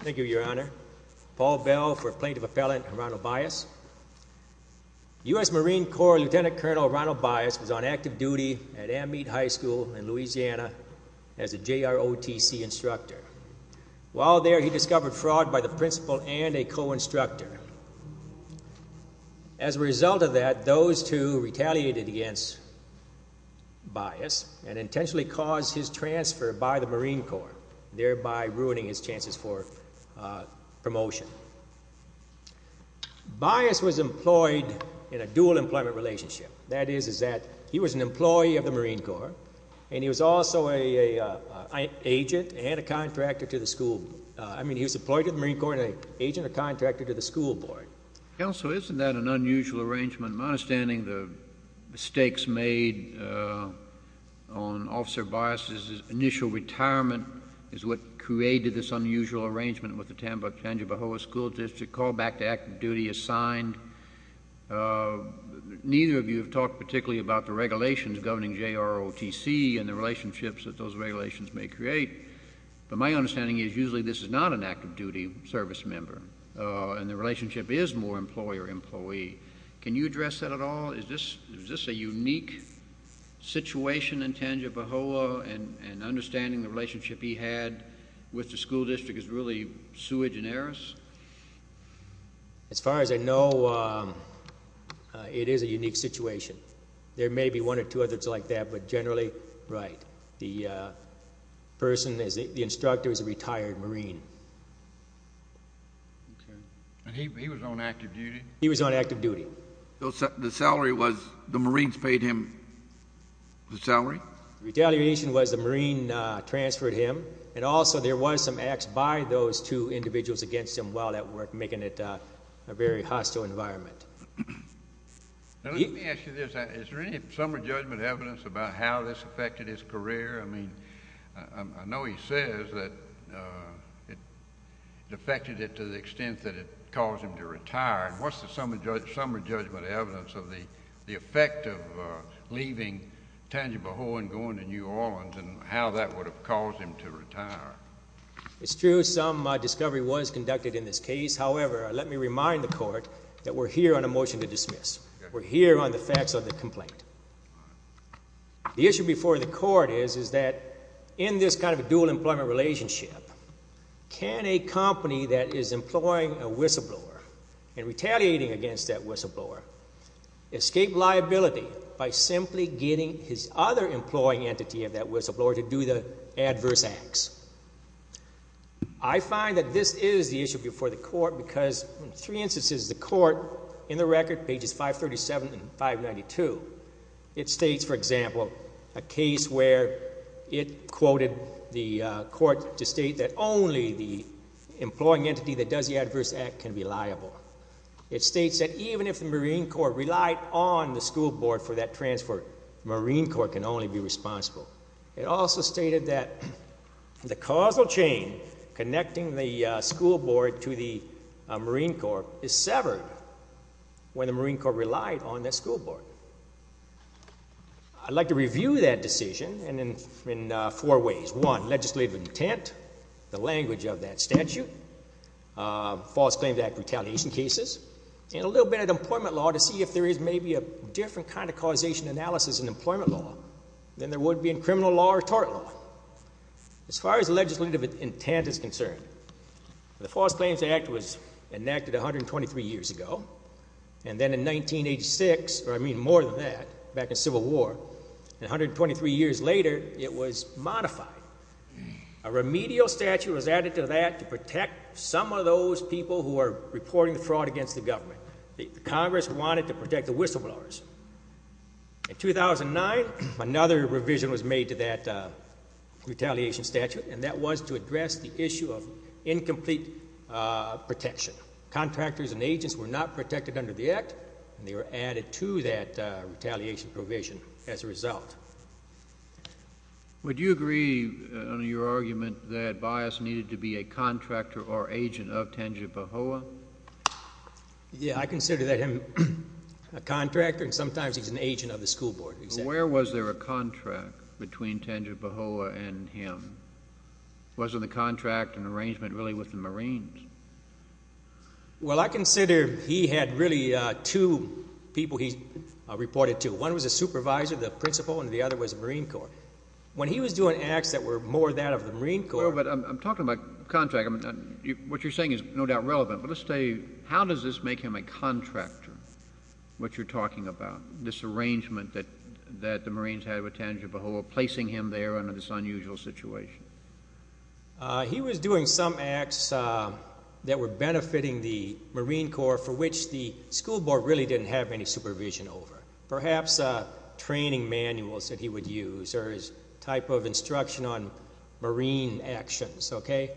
Thank you, Your Honor. Paul Bell for Plaintiff Appellant Ronald Bias. U.S. Marine Corps Lieutenant Colonel Ronald Bias was on active duty at Ammead High School in Louisiana as a JROTC instructor. While there, he discovered fraud by the principal and a co-instructor. As a result of that, those two retaliated against Bias and intentionally caused his transfer by the Marine Corps, thereby ruining his chances for promotion. Bias was employed in a dual employment relationship. That is, is that he was an employee of the Marine Corps, and he was also a agent and a contractor to the school. I mean, he was employed to the Marine Corps and an agent or contractor to the school board. Counsel, isn't that an unusual arrangement? My understanding, the stakes made on Officer Bias's initial retirement is what created this unusual arrangement with the Tangipahoa School District. Call back to active duty is signed. Neither of you have talked particularly about the regulations governing JROTC and the relationships that those regulations may create, but my understanding is usually this is not an active duty service member, and the relationship is more employer-employee. Can you address that at all? Is this a unique situation in Tangipahoa, and understanding the relationship he had with the school district is really sui generis? As far as I know, it is a unique situation. There may be one or two others like that, but generally, right. The person, the instructor is a retired Marine. And he was on active duty? He was on active duty. The salary was, the Marines paid him the salary? Retaliation was the Marine transferred him, and also there was some acts by those two individuals against him while at work, making it a very hostile environment. Now, let me ask you this. Is there any summer judgment evidence about how this affected his career? I mean, I know he says that it affected it to the extent that it caused him to retire. What's the summer judgment evidence of the effect of leaving Tangipahoa and going to New Orleans, and how that would have caused him to retire? It's true some discovery was conducted in this case. However, let me remind the Court that we're here on a motion to dismiss. We're here on the facts of the complaint. The issue before the Court is, is that in this kind of dual employment relationship, can a company that is employing a whistleblower and retaliating against that whistleblower escape liability by simply getting his other employing entity of that whistleblower to do the record, pages 537 and 592. It states, for example, a case where it quoted the Court to state that only the employing entity that does the adverse act can be liable. It states that even if the Marine Corps relied on the school board for that transfer, Marine Corps can only be responsible. It also stated that the causal chain connecting the school board to the Marine Corps is severed when the Marine Corps relied on that school board. I'd like to review that decision in four ways. One, legislative intent, the language of that statute, false claims act retaliation cases, and a little bit of employment law to see if there is maybe a different kind of causation analysis in employment law than there would be in criminal law or tort law. As far as legislative intent is concerned, the False Claims Act was enacted 123 years ago, and then in 1986, or I mean more than that, back in Civil War, and 123 years later, it was modified. A remedial statute was added to that to protect some of those people who are reporting the fraud against the government. The Congress wanted to protect the whistleblowers. In 2009, another revision was made to that retaliation statute, and that was to address the issue of protection under the act, and they were added to that retaliation provision as a result. Would you agree on your argument that Bias needed to be a contractor or agent of Tangipahoa? Yeah, I consider that him a contractor, and sometimes he's an agent of the school board. Where was there a contract between Tangipahoa and him? Wasn't the contract an arrangement really with the Marines? Well, I consider he had really two people he reported to. One was a supervisor, the principal, and the other was the Marine Corps. When he was doing acts that were more that of the Marine Corps— Well, but I'm talking about contract. What you're saying is no doubt relevant, but let's say, how does this make him a contractor, what you're talking about, this arrangement that the Marines had with Tangipahoa, placing him there under this unusual situation? He was doing some acts that were benefiting the Marine Corps for which the school board really didn't have any supervision over, perhaps training manuals that he would use or his type of instruction on Marine actions, okay?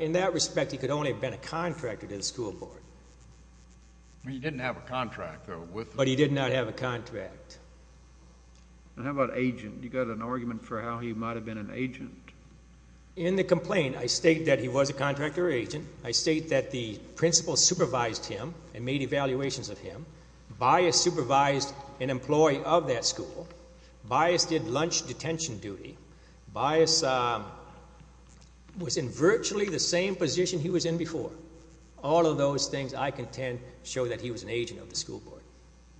In that respect, he could only have been a contractor to the school board. He didn't have a contract, though. But he did not have a contract. And how about agent? You got an argument for how he might have been an agent. In the complaint, I state that he was a contractor agent. I state that the principal supervised him and made evaluations of him. Bias supervised an employee of that school. Bias did lunch detention duty. Bias was in virtually the same position he was in before. All of those things, I contend, show that he was an agent of the school board.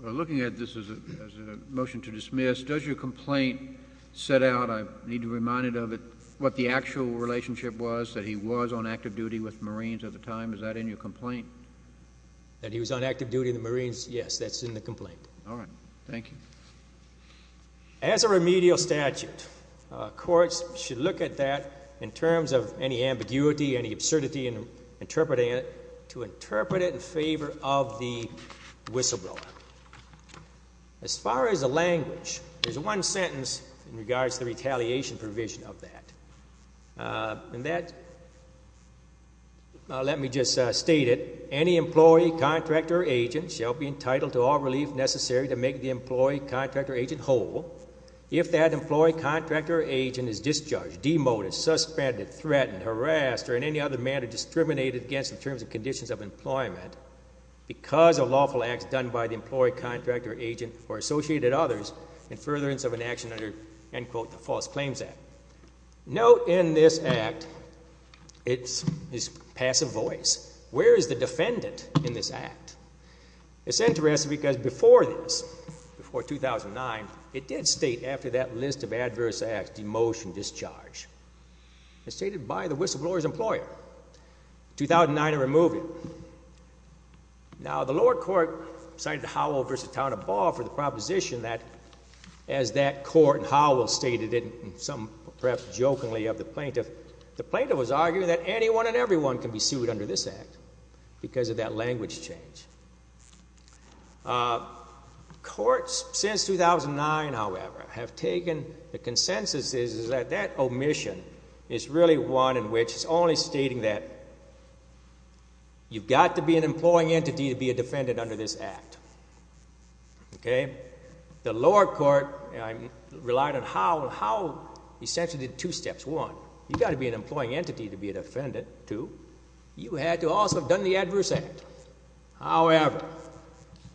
Well, looking at this as a motion to dismiss, does your complaint set out—I actual relationship was that he was on active duty with Marines at the time? Is that in your complaint? That he was on active duty in the Marines? Yes, that's in the complaint. All right. Thank you. As a remedial statute, courts should look at that in terms of any ambiguity, any absurdity in interpreting it, to interpret it in favor of the whistleblower. As far as the language, there's one sentence in regards to the retaliation provision of that. That—let me just state it. Any employee, contractor, or agent shall be entitled to all relief necessary to make the employee, contractor, or agent whole if that employee, contractor, or agent is discharged, demoted, suspended, threatened, harassed, or in any other manner discriminated against in terms of conditions of employment because of lawful acts done by the employee, contractor, or agent or associated others in furtherance of an action under, end quote, the False Claims Act. Note in this act, it's passive voice. Where is the defendant in this act? It's interesting because before this, before 2009, it did state after that list of adverse acts, demotion, discharge. It's stated by the whistleblower's employer. 2009 to remove it. Now, the lower court cited Howell v. Town and Ball for the proposition that, as that court—Howell stated it and some perhaps jokingly of the plaintiff—the plaintiff was arguing that anyone and everyone can be sued under this act because of that language change. Courts since 2009, however, have taken—the consensus is that that omission is really one in which it's only stating that you've got to be an employing entity to be a defendant under this act. Okay? The lower court relied on Howell. Howell essentially did two steps. One, you've got to be an employing entity to be a defendant. Two, you had to also have done the adverse act. However,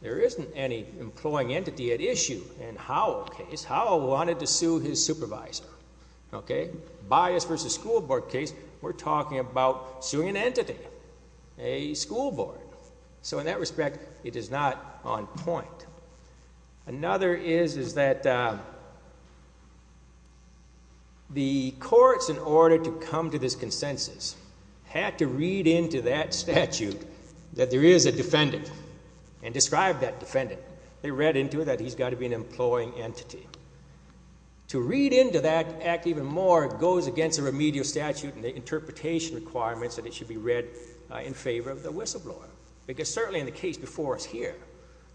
there isn't any employing entity at issue in Howell's case. Howell wanted to sue his supervisor. Okay? Bias versus school board case, we're talking about suing an entity, a school board. So in that respect, it is not on point. Another is that the courts, in order to come to this consensus, had to read into that statute that there is a defendant and describe that defendant. They read into it that he's got to be an employing entity. To read into that act even more goes against the remedial statute and the interpretation requirements that it should be read in favor of the whistleblower. Because certainly in the case before us here,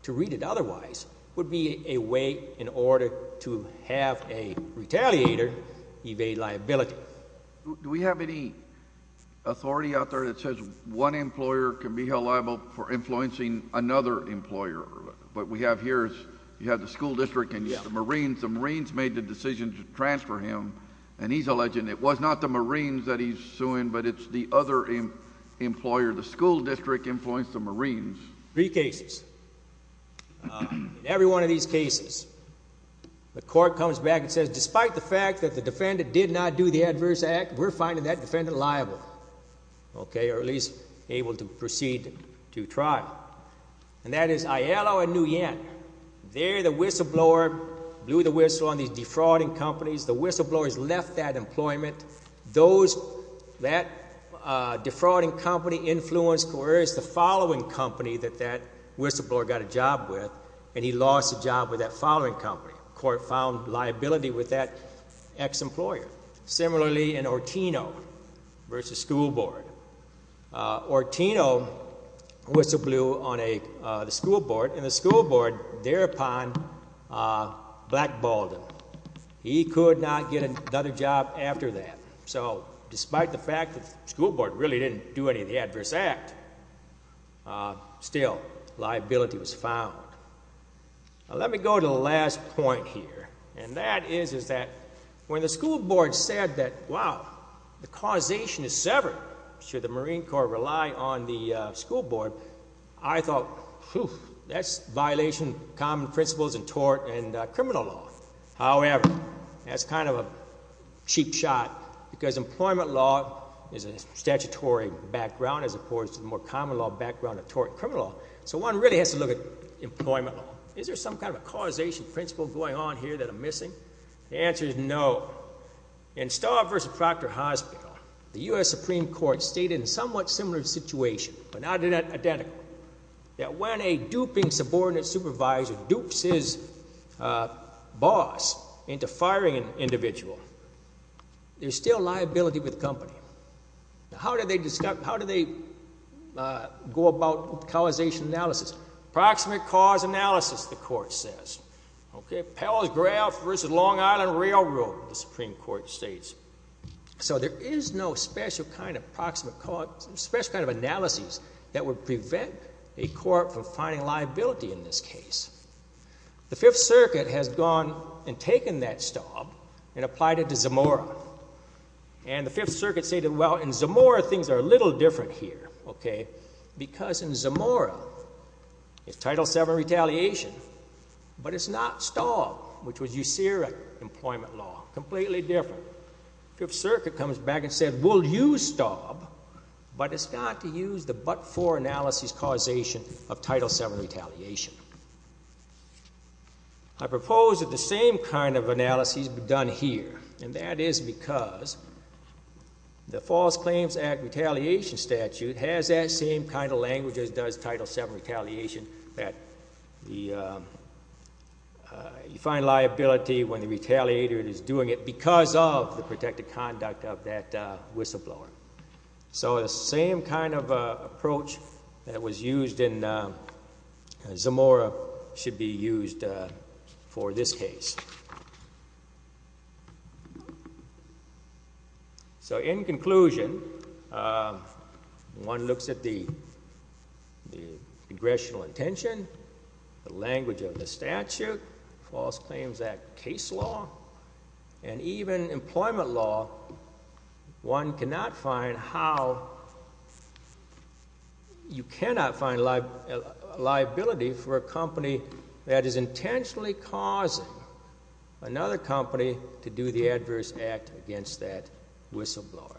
to read it otherwise would be a way in order to have a retaliator evade liability. Do we have any authority out there that says one employer can be held liable for influencing another employer? What we have here is you have the school district and the Marines. The Marines made the decision to transfer him, and he's alleging it was not the Marines that he's suing, but it's the other employer. The school district influenced the Marines. Three cases. In every one of these cases, the court comes back and says, despite the fact that the defendant did not do the adverse act, we're finding that defendant liable. Okay? Or at least able to proceed to trial. And that is Aiello and Nguyen. There the whistleblower blew the whistle on these defrauding companies. The whistleblowers left that employment. Those, that defrauding company influenced the following company that that whistleblower got a job with, and he lost a job with that following company. Court found liability with that ex-employer. Similarly in Ortino versus School Board. Ortino whistleblew on the School Board, and the School Board thereupon blackballed him. He could not get another job after that. So despite the fact that School Board really didn't do any of the adverse act, still liability was found. Now let me go to the last point here, and that is, is that when the School Board said that, wow, the causation is severed should the Marine Corps rely on the School Board, I thought, whew, that's violation common principles and tort and criminal law. However, that's kind of a cheap shot because employment law is a statutory background as opposed to the more common law background of tort and criminal law. So one really has to look at The answer is no. In Starr versus Proctor Hospital, the U.S. Supreme Court stated in somewhat similar situation, but not identical, that when a duping subordinate supervisor dupes his boss into firing an individual, there's still liability with the company. Now how do they discuss, how do they go about causation analysis? Proximate cause analysis, the court says. Okay, Powell's Graff versus Long Island Railroad, the Supreme Court states. So there is no special kind of proximate cause, special kind of analysis that would prevent a court from finding liability in this case. The Fifth Circuit has gone and taken that stomp and applied it to Zamora. And the Fifth Circuit stated, well, in Zamora things are a little different here. Okay. Because in Zamora, it's Title VII retaliation, but it's not Staub, which was usuric employment law, completely different. Fifth Circuit comes back and said, we'll use Staub, but it's not to use the but-for analysis causation of Title VII retaliation. I propose that the same kind of analysis be done here. And that is because the False Claims Act Retaliation Statute has that same kind of language as does Title VII retaliation, that you find liability when the retaliator is doing it because of the protected conduct of that whistleblower. So the same kind of approach that was used in Zamora should be used for this case. So in conclusion, one looks at the congressional intention, the language of the statute, False Claims Act case law, and even employment law. One cannot find how you cannot find liability for a company that is intentionally causing another company to do the adverse act against that whistleblower.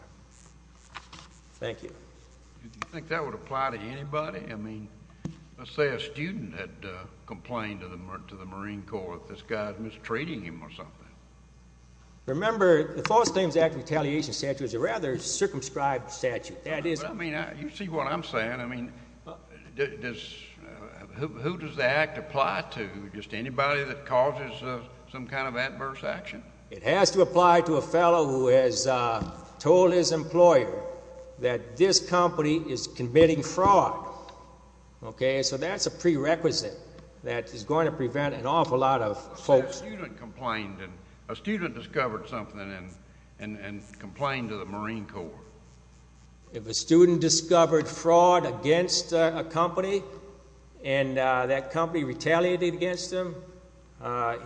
Thank you. Do you think that would apply to anybody? I mean, let's say a student had complained to the Marine Corps that this guy was mistreating him or something. Remember, the False Claims Act Retaliation Statute is a rather circumscribed statute. You see what I'm saying. I mean, who does the act apply to? Just anybody that causes some kind of adverse action? It has to apply to a fellow who has told his employer that this company is committing fraud. Okay, so that's a prerequisite that is going to prevent an awful lot of folks. Say a student complained and a student discovered something and complained to the Marine Corps. If a student discovered fraud against a company and that company retaliated against him,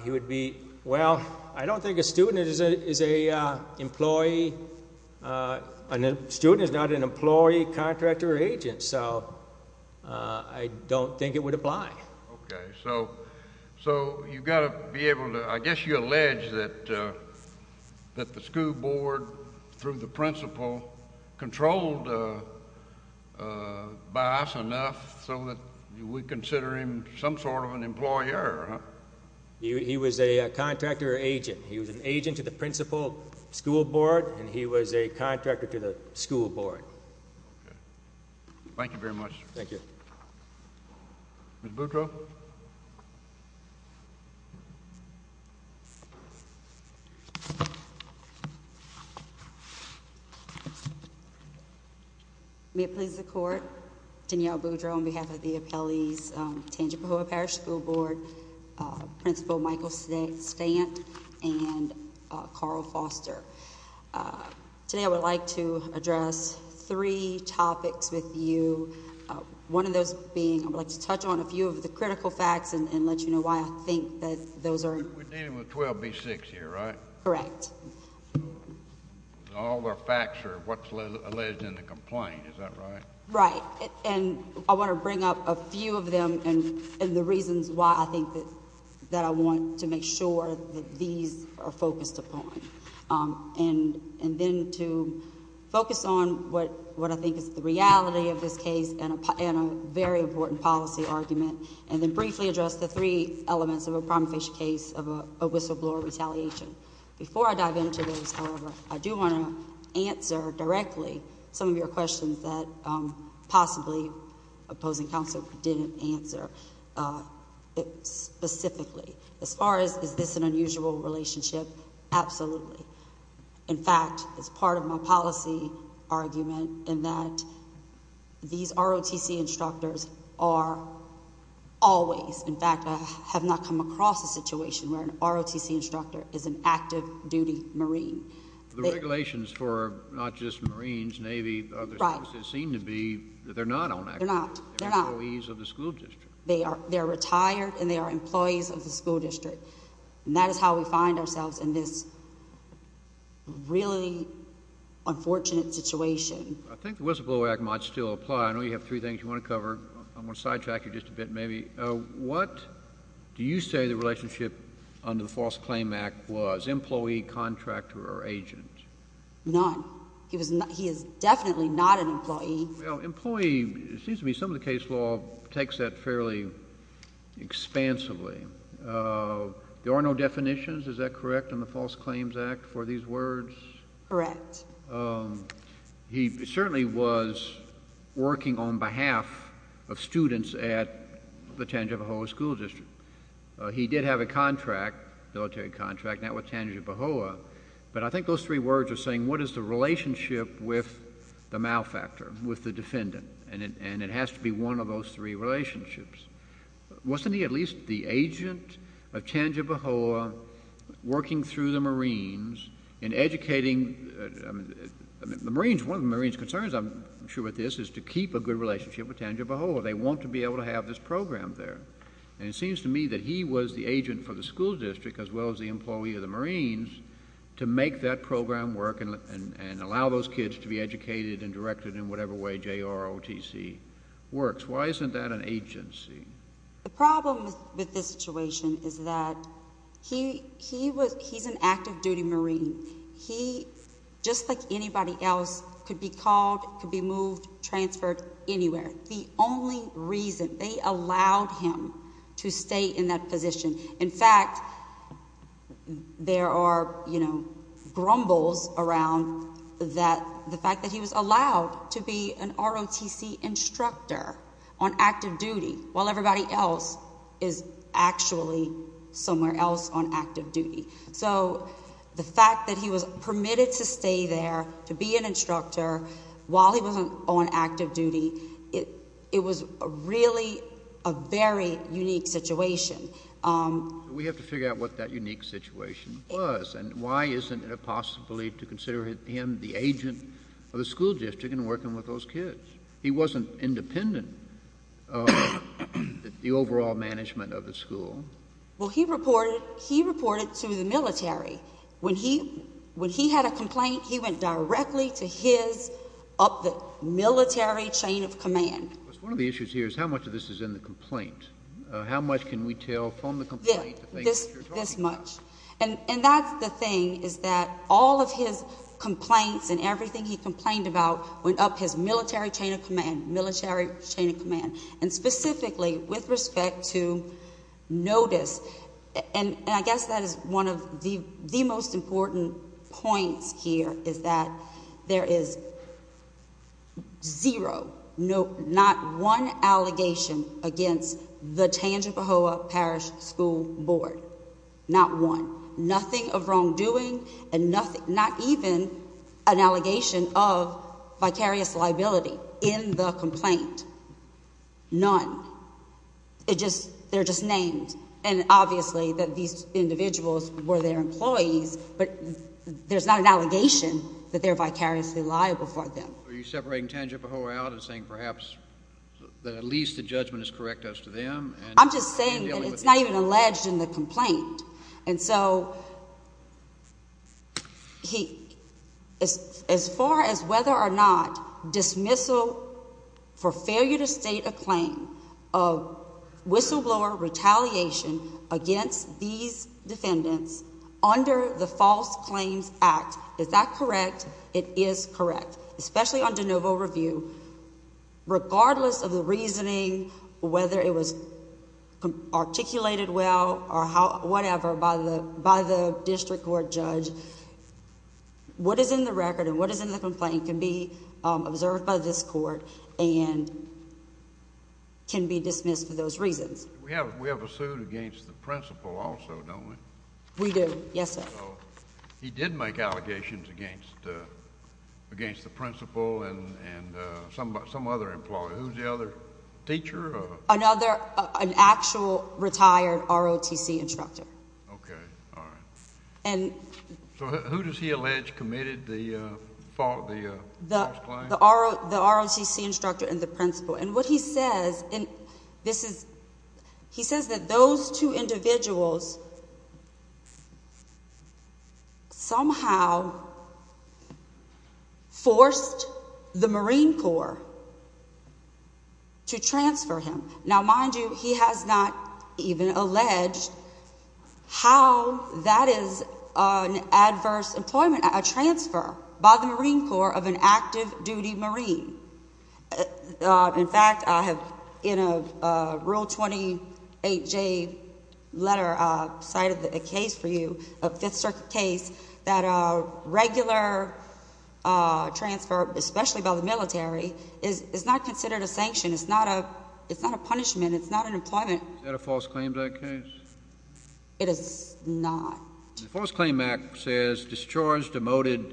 he would be, well, I don't think a student is a employee. A student is not an employee. I guess you allege that the school board, through the principal, controlled Bias enough so that we consider him some sort of an employer, huh? He was a contractor agent. He was an agent to the principal school board and he was a contractor to the school board. Okay. Thank you very much. Thank you. Ms. Boudreaux. May it please the Court, Danielle Boudreaux on behalf of the Appellees, Tangipahoa Parish School Board, Principal Michael Stant and Carl Foster. Today I would like to address three topics with you. One of those being, I would like to touch on a few of the critical facts and let you know why I think that those are. We're dealing with 12B6 here, right? Correct. All their facts are what's alleged in the complaint, is that right? Right. And I want to bring up a few of them and the reasons why I think that I want to make sure that these are focused upon. And then to focus on what I think is the reality of this case and a very important policy argument. And then briefly address the three elements of a prima facie case of a whistleblower retaliation. Before I dive into those, however, I do want to answer directly some of your questions that possibly opposing counsel didn't answer specifically. As far as, is this an unusual relationship? Absolutely. In fact, it's part of my policy argument in that these ROTC instructors are always, in fact, I have not come across a situation where an ROTC instructor is an active duty Marine. The regulations for not just Marines, Navy, seem to be that they're not on active duty. They're not. They're employees of the school district. They are. They're retired and they are employees of the school district. And that is how we find ourselves in this really unfortunate situation. I think the whistleblower act might still apply. I know you have three things you want to cover. I'm going to sidetrack you just a bit, maybe. What do you say the relationship under the False Claim Act was? Employee, contractor, or agent? None. He is definitely not an employee. Well, employee, it seems to me some of the case law takes that fairly expansively. There are no definitions, is that correct, in the False Claims Act for these words? Correct. Well, he certainly was working on behalf of students at the Tangipahoa School District. He did have a contract, military contract, now with Tangipahoa. But I think those three words are saying what is the relationship with the malfactor, with the defendant? And it has to be one of those three relationships. Wasn't he at least the agent of Tangipahoa working through the Marines in educating the Marines? One of the Marines' concerns, I'm sure with this, is to keep a good relationship with Tangipahoa. They want to be able to have this program there. And it seems to me that he was the agent for the school district as well as the employee of the Marines to make that program work and allow those kids to be educated and directed in whatever way JROTC works. Why isn't that an agency? The problem with this situation is that he's an active duty Marine. He, just like anybody else, could be called, could be moved, transferred anywhere. The only reason they allowed him to stay in that position. In fact, there are grumbles around the fact that he was allowed to be an ROTC instructor on active duty while everybody else is actually somewhere else on active duty. So the fact that he was permitted to stay there to be an instructor while he wasn't on active duty, it was really a very unique situation. We have to figure out what that unique situation was and why isn't it a possibility to consider him the agent of the school district and working with those kids? He wasn't independent the overall management of the school. Well, he reported to the military. When he had a complaint, he went directly to his, up the military chain of command. One of the issues here is how much of this is in the complaint? How much can we tell from the complaint? This much. And that's the thing is that all of his complaints and everything he complained about went up his military chain of command. And specifically with respect to notice, and I guess that is one of the most important points here is that there is zero, not one allegation against the Tangipahoa Parish School Board. Not one. Nothing of wrongdoing and nothing, not even an allegation of vicarious liability in the complaint. None. They're just named. And obviously that these individuals were their employees, but there's not an allegation that they're vicariously liable for them. Are you separating Tangipahoa out and saying perhaps that at least the judgment is correct as to them? I'm just saying that it's not even alleged in the complaint. And so he, as far as whether or not dismissal for failure to state a claim of whistleblower retaliation against these defendants under the False Claims Act, is that correct? It is correct, especially on de novo review, regardless of the reasoning, whether it was articulated well or whatever by the district court judge. What is in the record and what is in the complaint can be observed by this court and can be dismissed for those reasons. We have a suit against the principal also, don't we? We do. Yes, sir. He did make allegations against the principal and some other employee. Who's the other teacher? Another, an actual retired ROTC instructor. Okay. All right. So who does he allege committed the false claim? The ROTC instructor and the principal. And what he says, and this is, he says that those two individuals somehow forced the Marine Corps to transfer him. Now, mind you, he has not even alleged how that is an adverse employment, a transfer by the Marine Corps of an active duty Marine. In fact, I have in a Rule 28J letter cited a case for you, a Fifth Circuit case, that a regular transfer, especially by the military, is not considered a sanction. It's not a punishment. It's not an employment. Is that a false claim to that case? It is not. The False Claim Act says discharge demoted,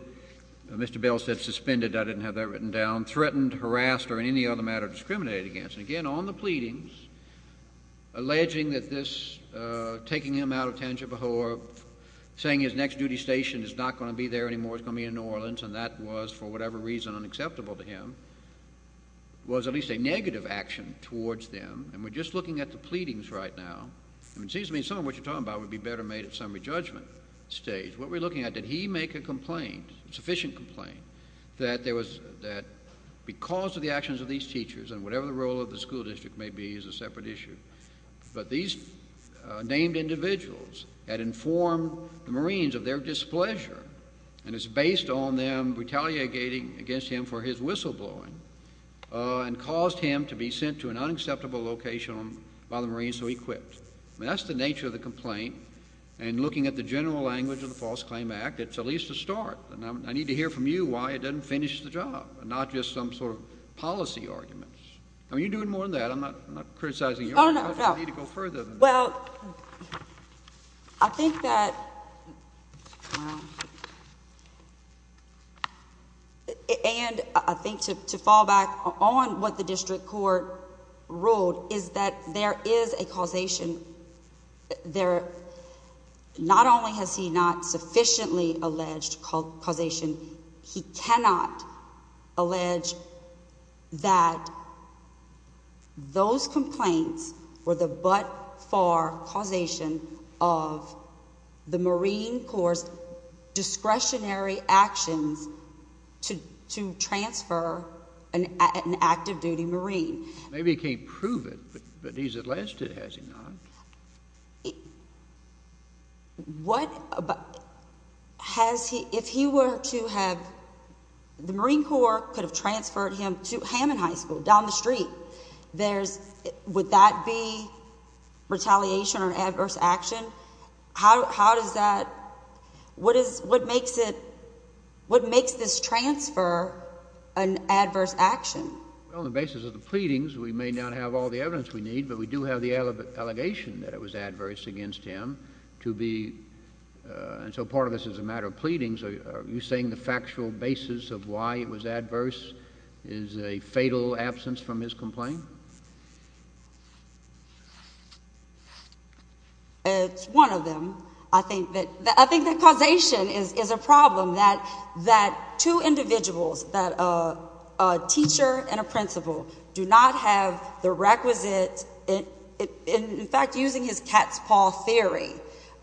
Mr. Bell said suspended, I didn't have that written down, threatened, harassed, or in any other matter discriminated against. And again, on the pleadings, alleging that this, taking him out of Tangipahoa, saying his next duty station is not going to be there anymore, it's going to be in New Orleans, and that was, for whatever reason, unacceptable to him, was at least a negative action towards them. And we're just looking at the pleadings right now, and it seems to me some of what you're talking about would be better made at a judgment stage. What we're looking at, did he make a complaint, a sufficient complaint, that because of the actions of these teachers, and whatever the role of the school district may be is a separate issue, but these named individuals had informed the Marines of their displeasure, and it's based on them retaliating against him for his whistleblowing, and caused him to be sent to an unacceptable location by the Marines, so he quit. That's the nature of a complaint, and looking at the general language of the False Claim Act, it's at least a start, and I need to hear from you why it doesn't finish the job, and not just some sort of policy arguments. I mean, you're doing more than that. I'm not criticizing you. I need to go further. Well, I think that, and I think to fall back on what the district court ruled, is that there is a causation, there, not only has he not sufficiently alleged causation, he cannot allege that those complaints were the but-for causation of the Marine Corps' discretionary actions to transfer an active-duty Marine. Maybe he can't prove it, but he's alleged it, has he not? What about, has he, if he were to have, the Marine Corps could have transferred him to Hammond High School, down the street, there's, would that be retaliation or adverse action? How does that, what is, what makes it, what makes this transfer an adverse action? Well, on the basis of the that it was adverse against him, to be, and so part of this is a matter of pleadings, are you saying the factual basis of why it was adverse is a fatal absence from his complaint? It's one of them. I think that, I think that causation is a problem, that two individuals, that a teacher and a principal do not have the requisite, in fact, using his cat's paw theory,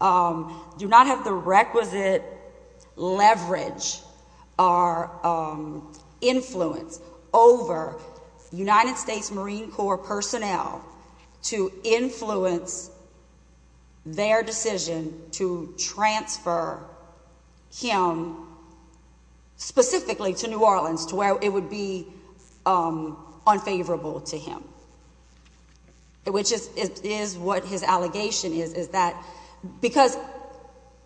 do not have the requisite leverage or influence over United States Marine Corps personnel to influence their decision to transfer him specifically to New Orleans, to where it would be unfavorable to him, which is what his allegation is, is that, because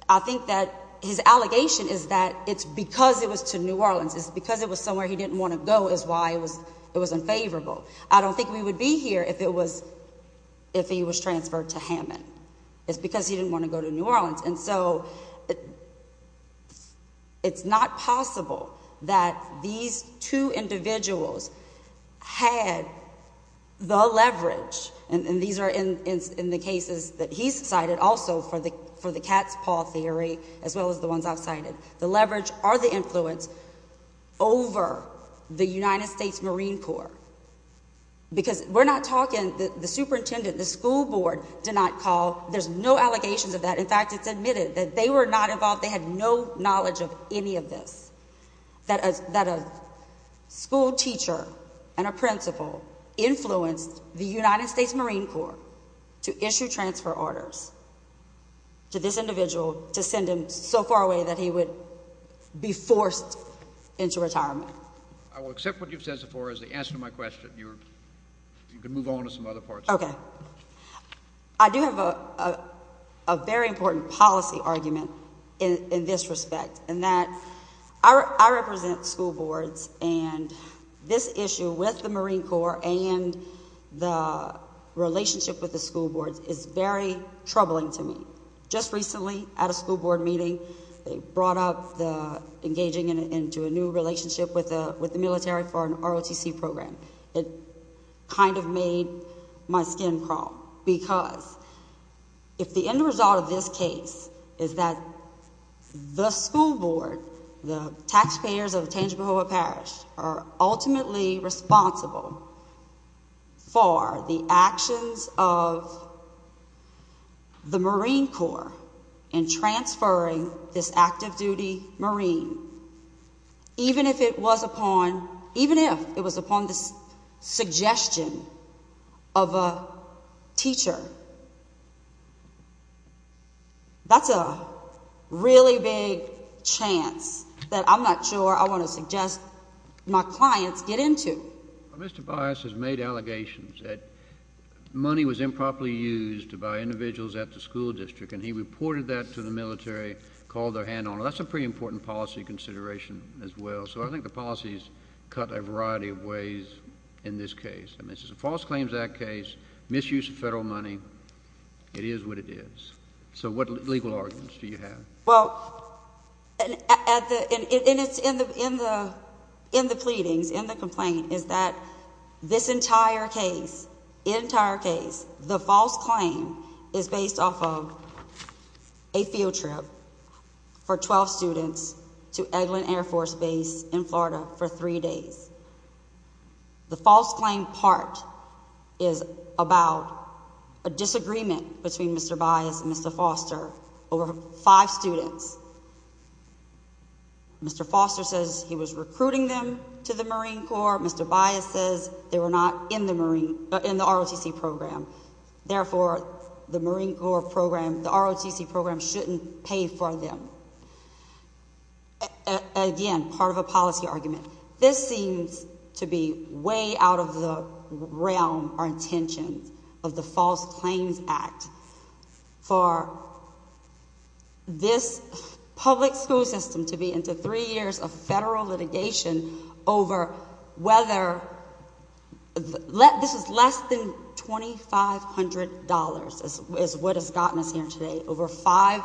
I think that his allegation is that it's because it was to New Orleans, it's because it was somewhere he didn't want to go, is why it was, it was unfavorable. I don't think we would be here if it was, if he was transferred to Hammond. It's because he didn't want to go to New Orleans, and so it's not possible that these two individuals had the leverage, and these are in, in the cases that he's cited also for the, for the cat's paw theory, as well as the ones I've cited, the leverage or the influence over the United States Marine Corps, because we're not talking, the superintendent, the school board did not call, there's no allegations of that, in fact, it's admitted that they were not involved, they had no knowledge of any of this, that a school teacher and a principal influenced the United States Marine Corps to issue transfer orders to this individual to send him so far away that he would be forced into retirement. I will accept what you've said so far as the answer to my question. You're, you can move on to some other parts. Okay. I do have a very important policy argument in this respect, in that I represent school boards, and this issue with the Marine Corps and the relationship with the school boards is very important. I had a school board meeting, they brought up the engaging into a new relationship with the, with the military for an ROTC program. It kind of made my skin crawl, because if the end result of this case is that the school board, the taxpayers of Tangipahoa Parish are ultimately responsible for the actions of the Marine Corps in transferring this active duty Marine, even if it was upon, even if it was upon the suggestion of a teacher, that's a really big chance that I'm not sure I want to suggest my clients get into. Mr. Bias has made allegations that money was improperly used by individuals at the school district, and he reported that to the military, called their hand on it. That's a pretty important policy consideration as well. So I think the policies cut a variety of ways in this case. I mean, False Claims Act case, misuse of federal money, it is what it is. So what legal arguments do you have? Well, in the pleadings, in the complaint, is that this entire case, entire case, the false claim is based off of a field trip for 12 students to Eglin Air Force Base in Florida for three days. The false claim part is about a disagreement between Mr. Bias and Mr. Foster, over five students. Mr. Foster says he was recruiting them to the Marine Corps. Mr. Bias says they were not in the Marine, in the ROTC program. Therefore, the Marine Corps program, the ROTC program shouldn't pay for them. Again, part of a policy argument, this seems to be way out of the realm or intention of the False Claims Act for this public school system to be into three years of federal litigation over whether, this is less than $2,500 is what has gotten us here today, over five,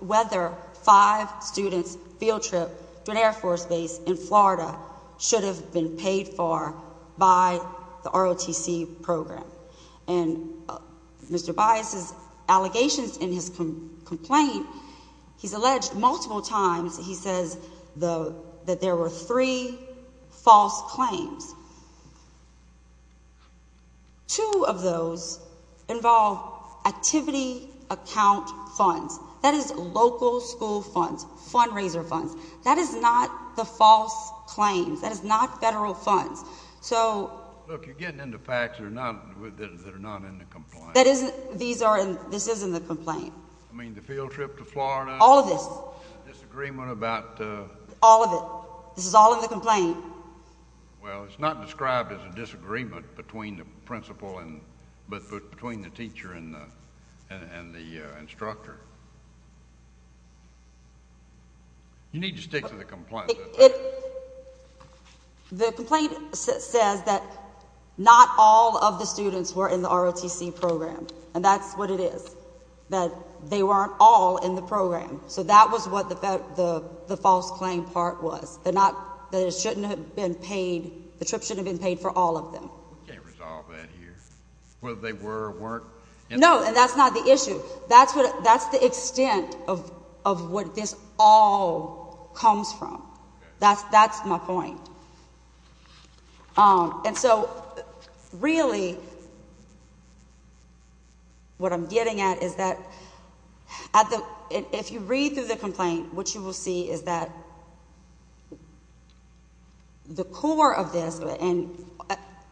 whether five students' field trip to an Air Force Base in Florida should have been paid for by the ROTC program. And Mr. Bias's allegations in his complaint, he's alleged multiple times, he says that there were three false claims. Two of those involve activity account funds. That is local school funds, fundraiser funds. That is not the false claims. That is not federal funds. So, look, you're getting into facts that are not in the complaint. That isn't, these are in, this is in the complaint. I mean, the field trip to Florida. All of this. Disagreement about. All of it. This is all in the complaint. Well, it's not described as a disagreement between the principal and, but between the teacher and the instructor. You need to stick to the complaint. The complaint says that not all of the students were in the ROTC program. And that's what it is. That they weren't all in the program. So, that was what the false claim part was. That it shouldn't have been paid, the trip shouldn't have been paid for all of them. You can't resolve that here. Whether they were or weren't. No, and that's not the issue. That's the extent of what this all comes from. That's my point. And so, really, what I'm getting at is that, at the, if you read through the complaint, what you will see is that the core of this, and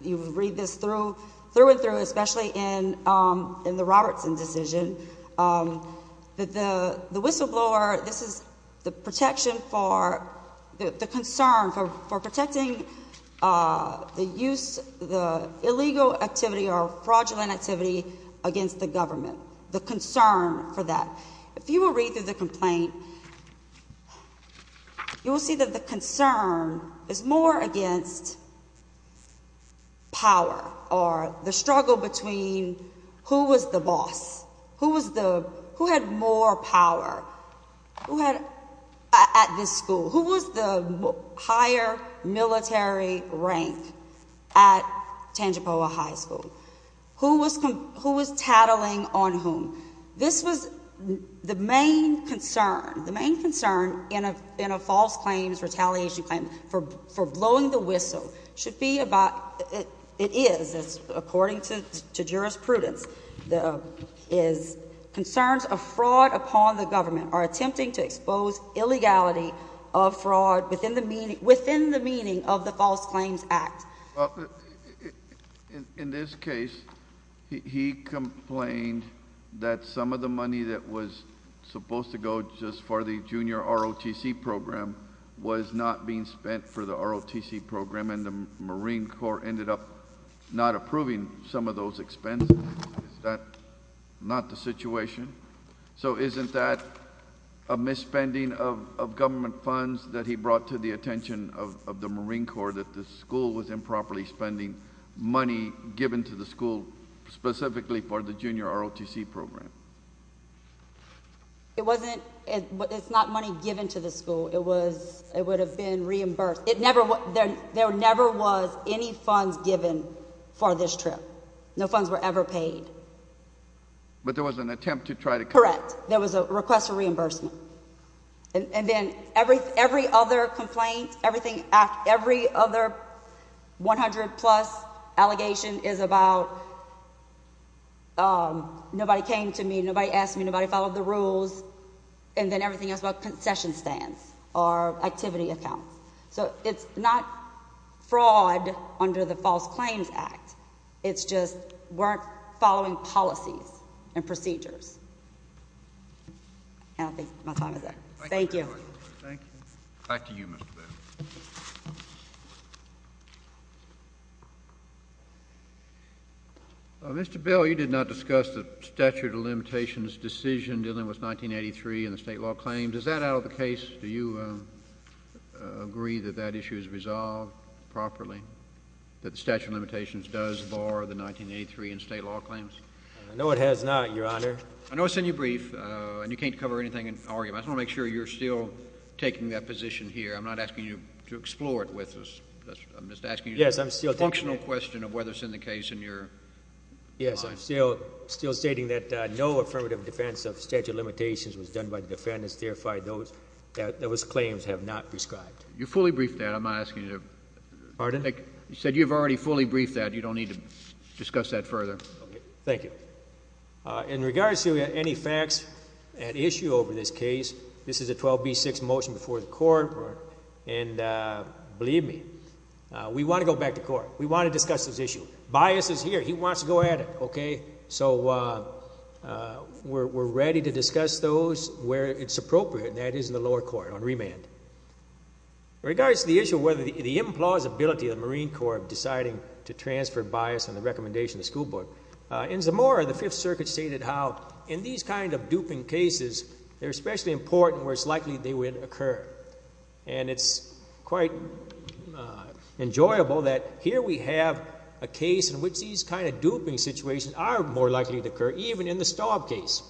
you will read this through, through and through, especially in the Robertson decision, that the whistleblower, this is the protection for, the concern for protecting the use, the illegal activity or fraudulent activity against the government. The concern for that. If you will read through the complaint, you will see that the concern is more against power or the struggle between who was the boss, who was the, who had more power, who had, at this school, who was the higher military rank at Tangipoa High School? Who was, who was tattling on whom? This was the main concern. The main concern in a false claim, retaliation claim, for blowing the whistle should be about, it is, according to jurisprudence, the, is concerns of fraud upon the government are attempting to expose illegality of fraud within the meaning, within the meaning of the False Claims Act. In this case, he complained that some of the money that was supposed to go just for the junior ROTC program was not being spent for the ROTC program, and the Marine Corps ended up not approving some of those expenses. Is that not the situation? So isn't that a misspending of government funds that he brought to the attention of the Marine Corps, that the school was improperly spending money given to the school specifically for the junior ROTC program? It wasn't, it's not money given to the school. It was, it would have been reimbursed. It never, there never was any funds given for this trip. No funds were ever paid. But there was an attempt to try to correct. There was a request for reimbursement. And then every, every other complaint, everything, every other 100 plus allegation is about, nobody came to me, nobody asked me, nobody followed the rules. And then everything else about concession stands or activity accounts. So it's not fraud under the False Claims Act. It's just weren't following policies and procedures. And I think my time is up. Thank you. Thank you. Back to you, Mr. Bill. Mr. Bill, you did not discuss the statute of limitations decision dealing with 1983 and the state law claims. Is that out of the case? Do you agree that that issue is resolved properly, that the statute of limitations does bar the 1983 in state law claims? No, it has not, Your Honor. I know it's in your brief, and you can't cover anything in argument. I want to make sure you're still taking that position here. I'm not asking you to explore it with us. I'm just asking you a functional question of whether it's in the case in your mind. Yes, I'm still stating that no affirmative defense of statute of limitations was done by the defendants, verified those that those claims have not prescribed. You fully briefed that. I'm not asking you to. Pardon? You said you've already fully briefed that. You don't need to discuss that further. Okay. Thank you. In regards to any facts and issue over this case, this is a 12B6 motion before the court, and believe me, we want to go back to court. We want to discuss this issue. Bias is here. He wants to go at it, okay? So we're ready to discuss those where it's appropriate, and that is in the lower court on remand. In regards to the issue of whether the implausibility of the Marine Corps of deciding to transfer bias on the recommendation of the school board, in Zamora, the Fifth Circuit stated how in these kind of duping cases, they're especially important where it's likely they would occur, and it's quite enjoyable that here we have a case in which these kind of duping situations are more likely to occur, even in the Staub case.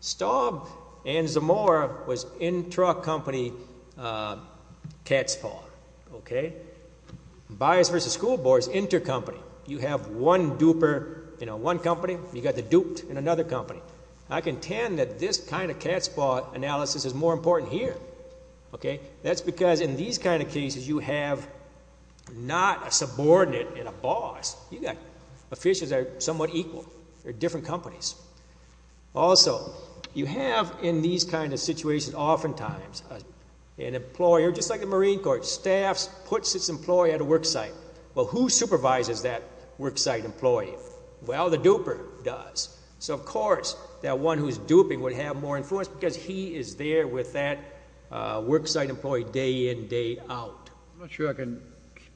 Staub and Zamora was intra-company catspaw, okay? Bias versus school board is inter-company. You have one duper in another company. I contend that this kind of catspaw analysis is more important here, okay? That's because in these kind of cases, you have not a subordinate and a boss. You got officials that are somewhat equal. They're different companies. Also, you have in these kind of situations, oftentimes, an employer, just like the Marine Corps, staffs, puts its employee at a worksite. Well, who supervises that worksite employee? Well, the duper does. So, of course, that one who's duping would have more influence because he is there with that worksite employee day in, day out. I'm not sure I can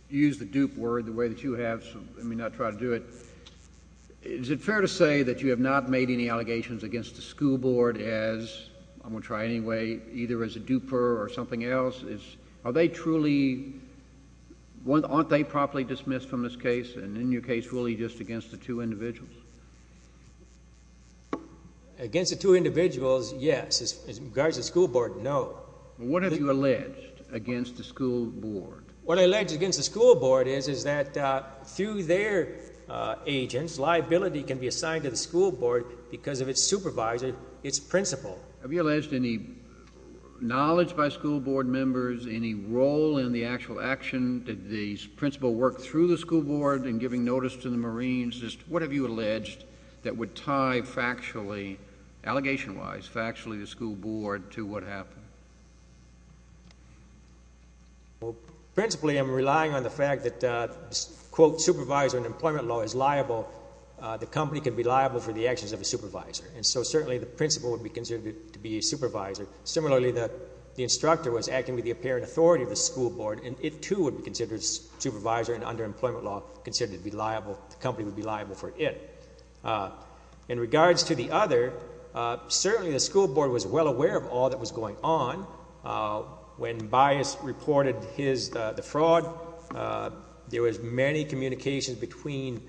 use the dupe word the way that you have, so let me not try to do it. Is it fair to say that you have not made any allegations against the school board as, I'm going to try anyway, either as a duper or something else? Aren't they properly dismissed from this case? And in your case, really just against the two individuals? Against the two individuals, yes. As regards to the school board, no. What have you alleged against the school board? What I alleged against the school board is that through their agents, liability can be Have you alleged any knowledge by school board members, any role in the actual action? Did the principal work through the school board in giving notice to the Marines? Just what have you alleged that would tie factually, allegation-wise, factually the school board to what happened? Well, principally, I'm relying on the fact that, quote, supervisor in employment law is liable. The company can be liable for the actions of a supervisor. And so, certainly, the principal would be considered to be a supervisor. Similarly, the instructor was acting with the apparent authority of the school board, and it, too, would be considered supervisor in underemployment law, considered to be liable, the company would be liable for it. In regards to the other, certainly the school board was well aware of all that was going on. When Bias reported his, the fraud, there was many communications between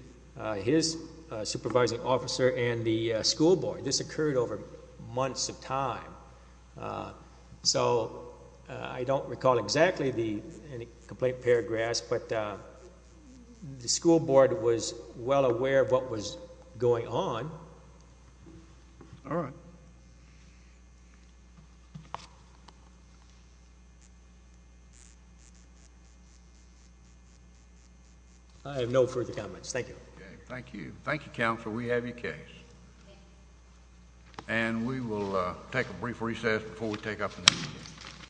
his supervising officer and the school board. This occurred over months of time. So I don't recall exactly the complaint paragraphs, but the school board was well aware of what was going on. All right. I have no further comments. Thank you. Okay. Thank you. Thank you, guys. And we will take a brief recess before we take up the next case.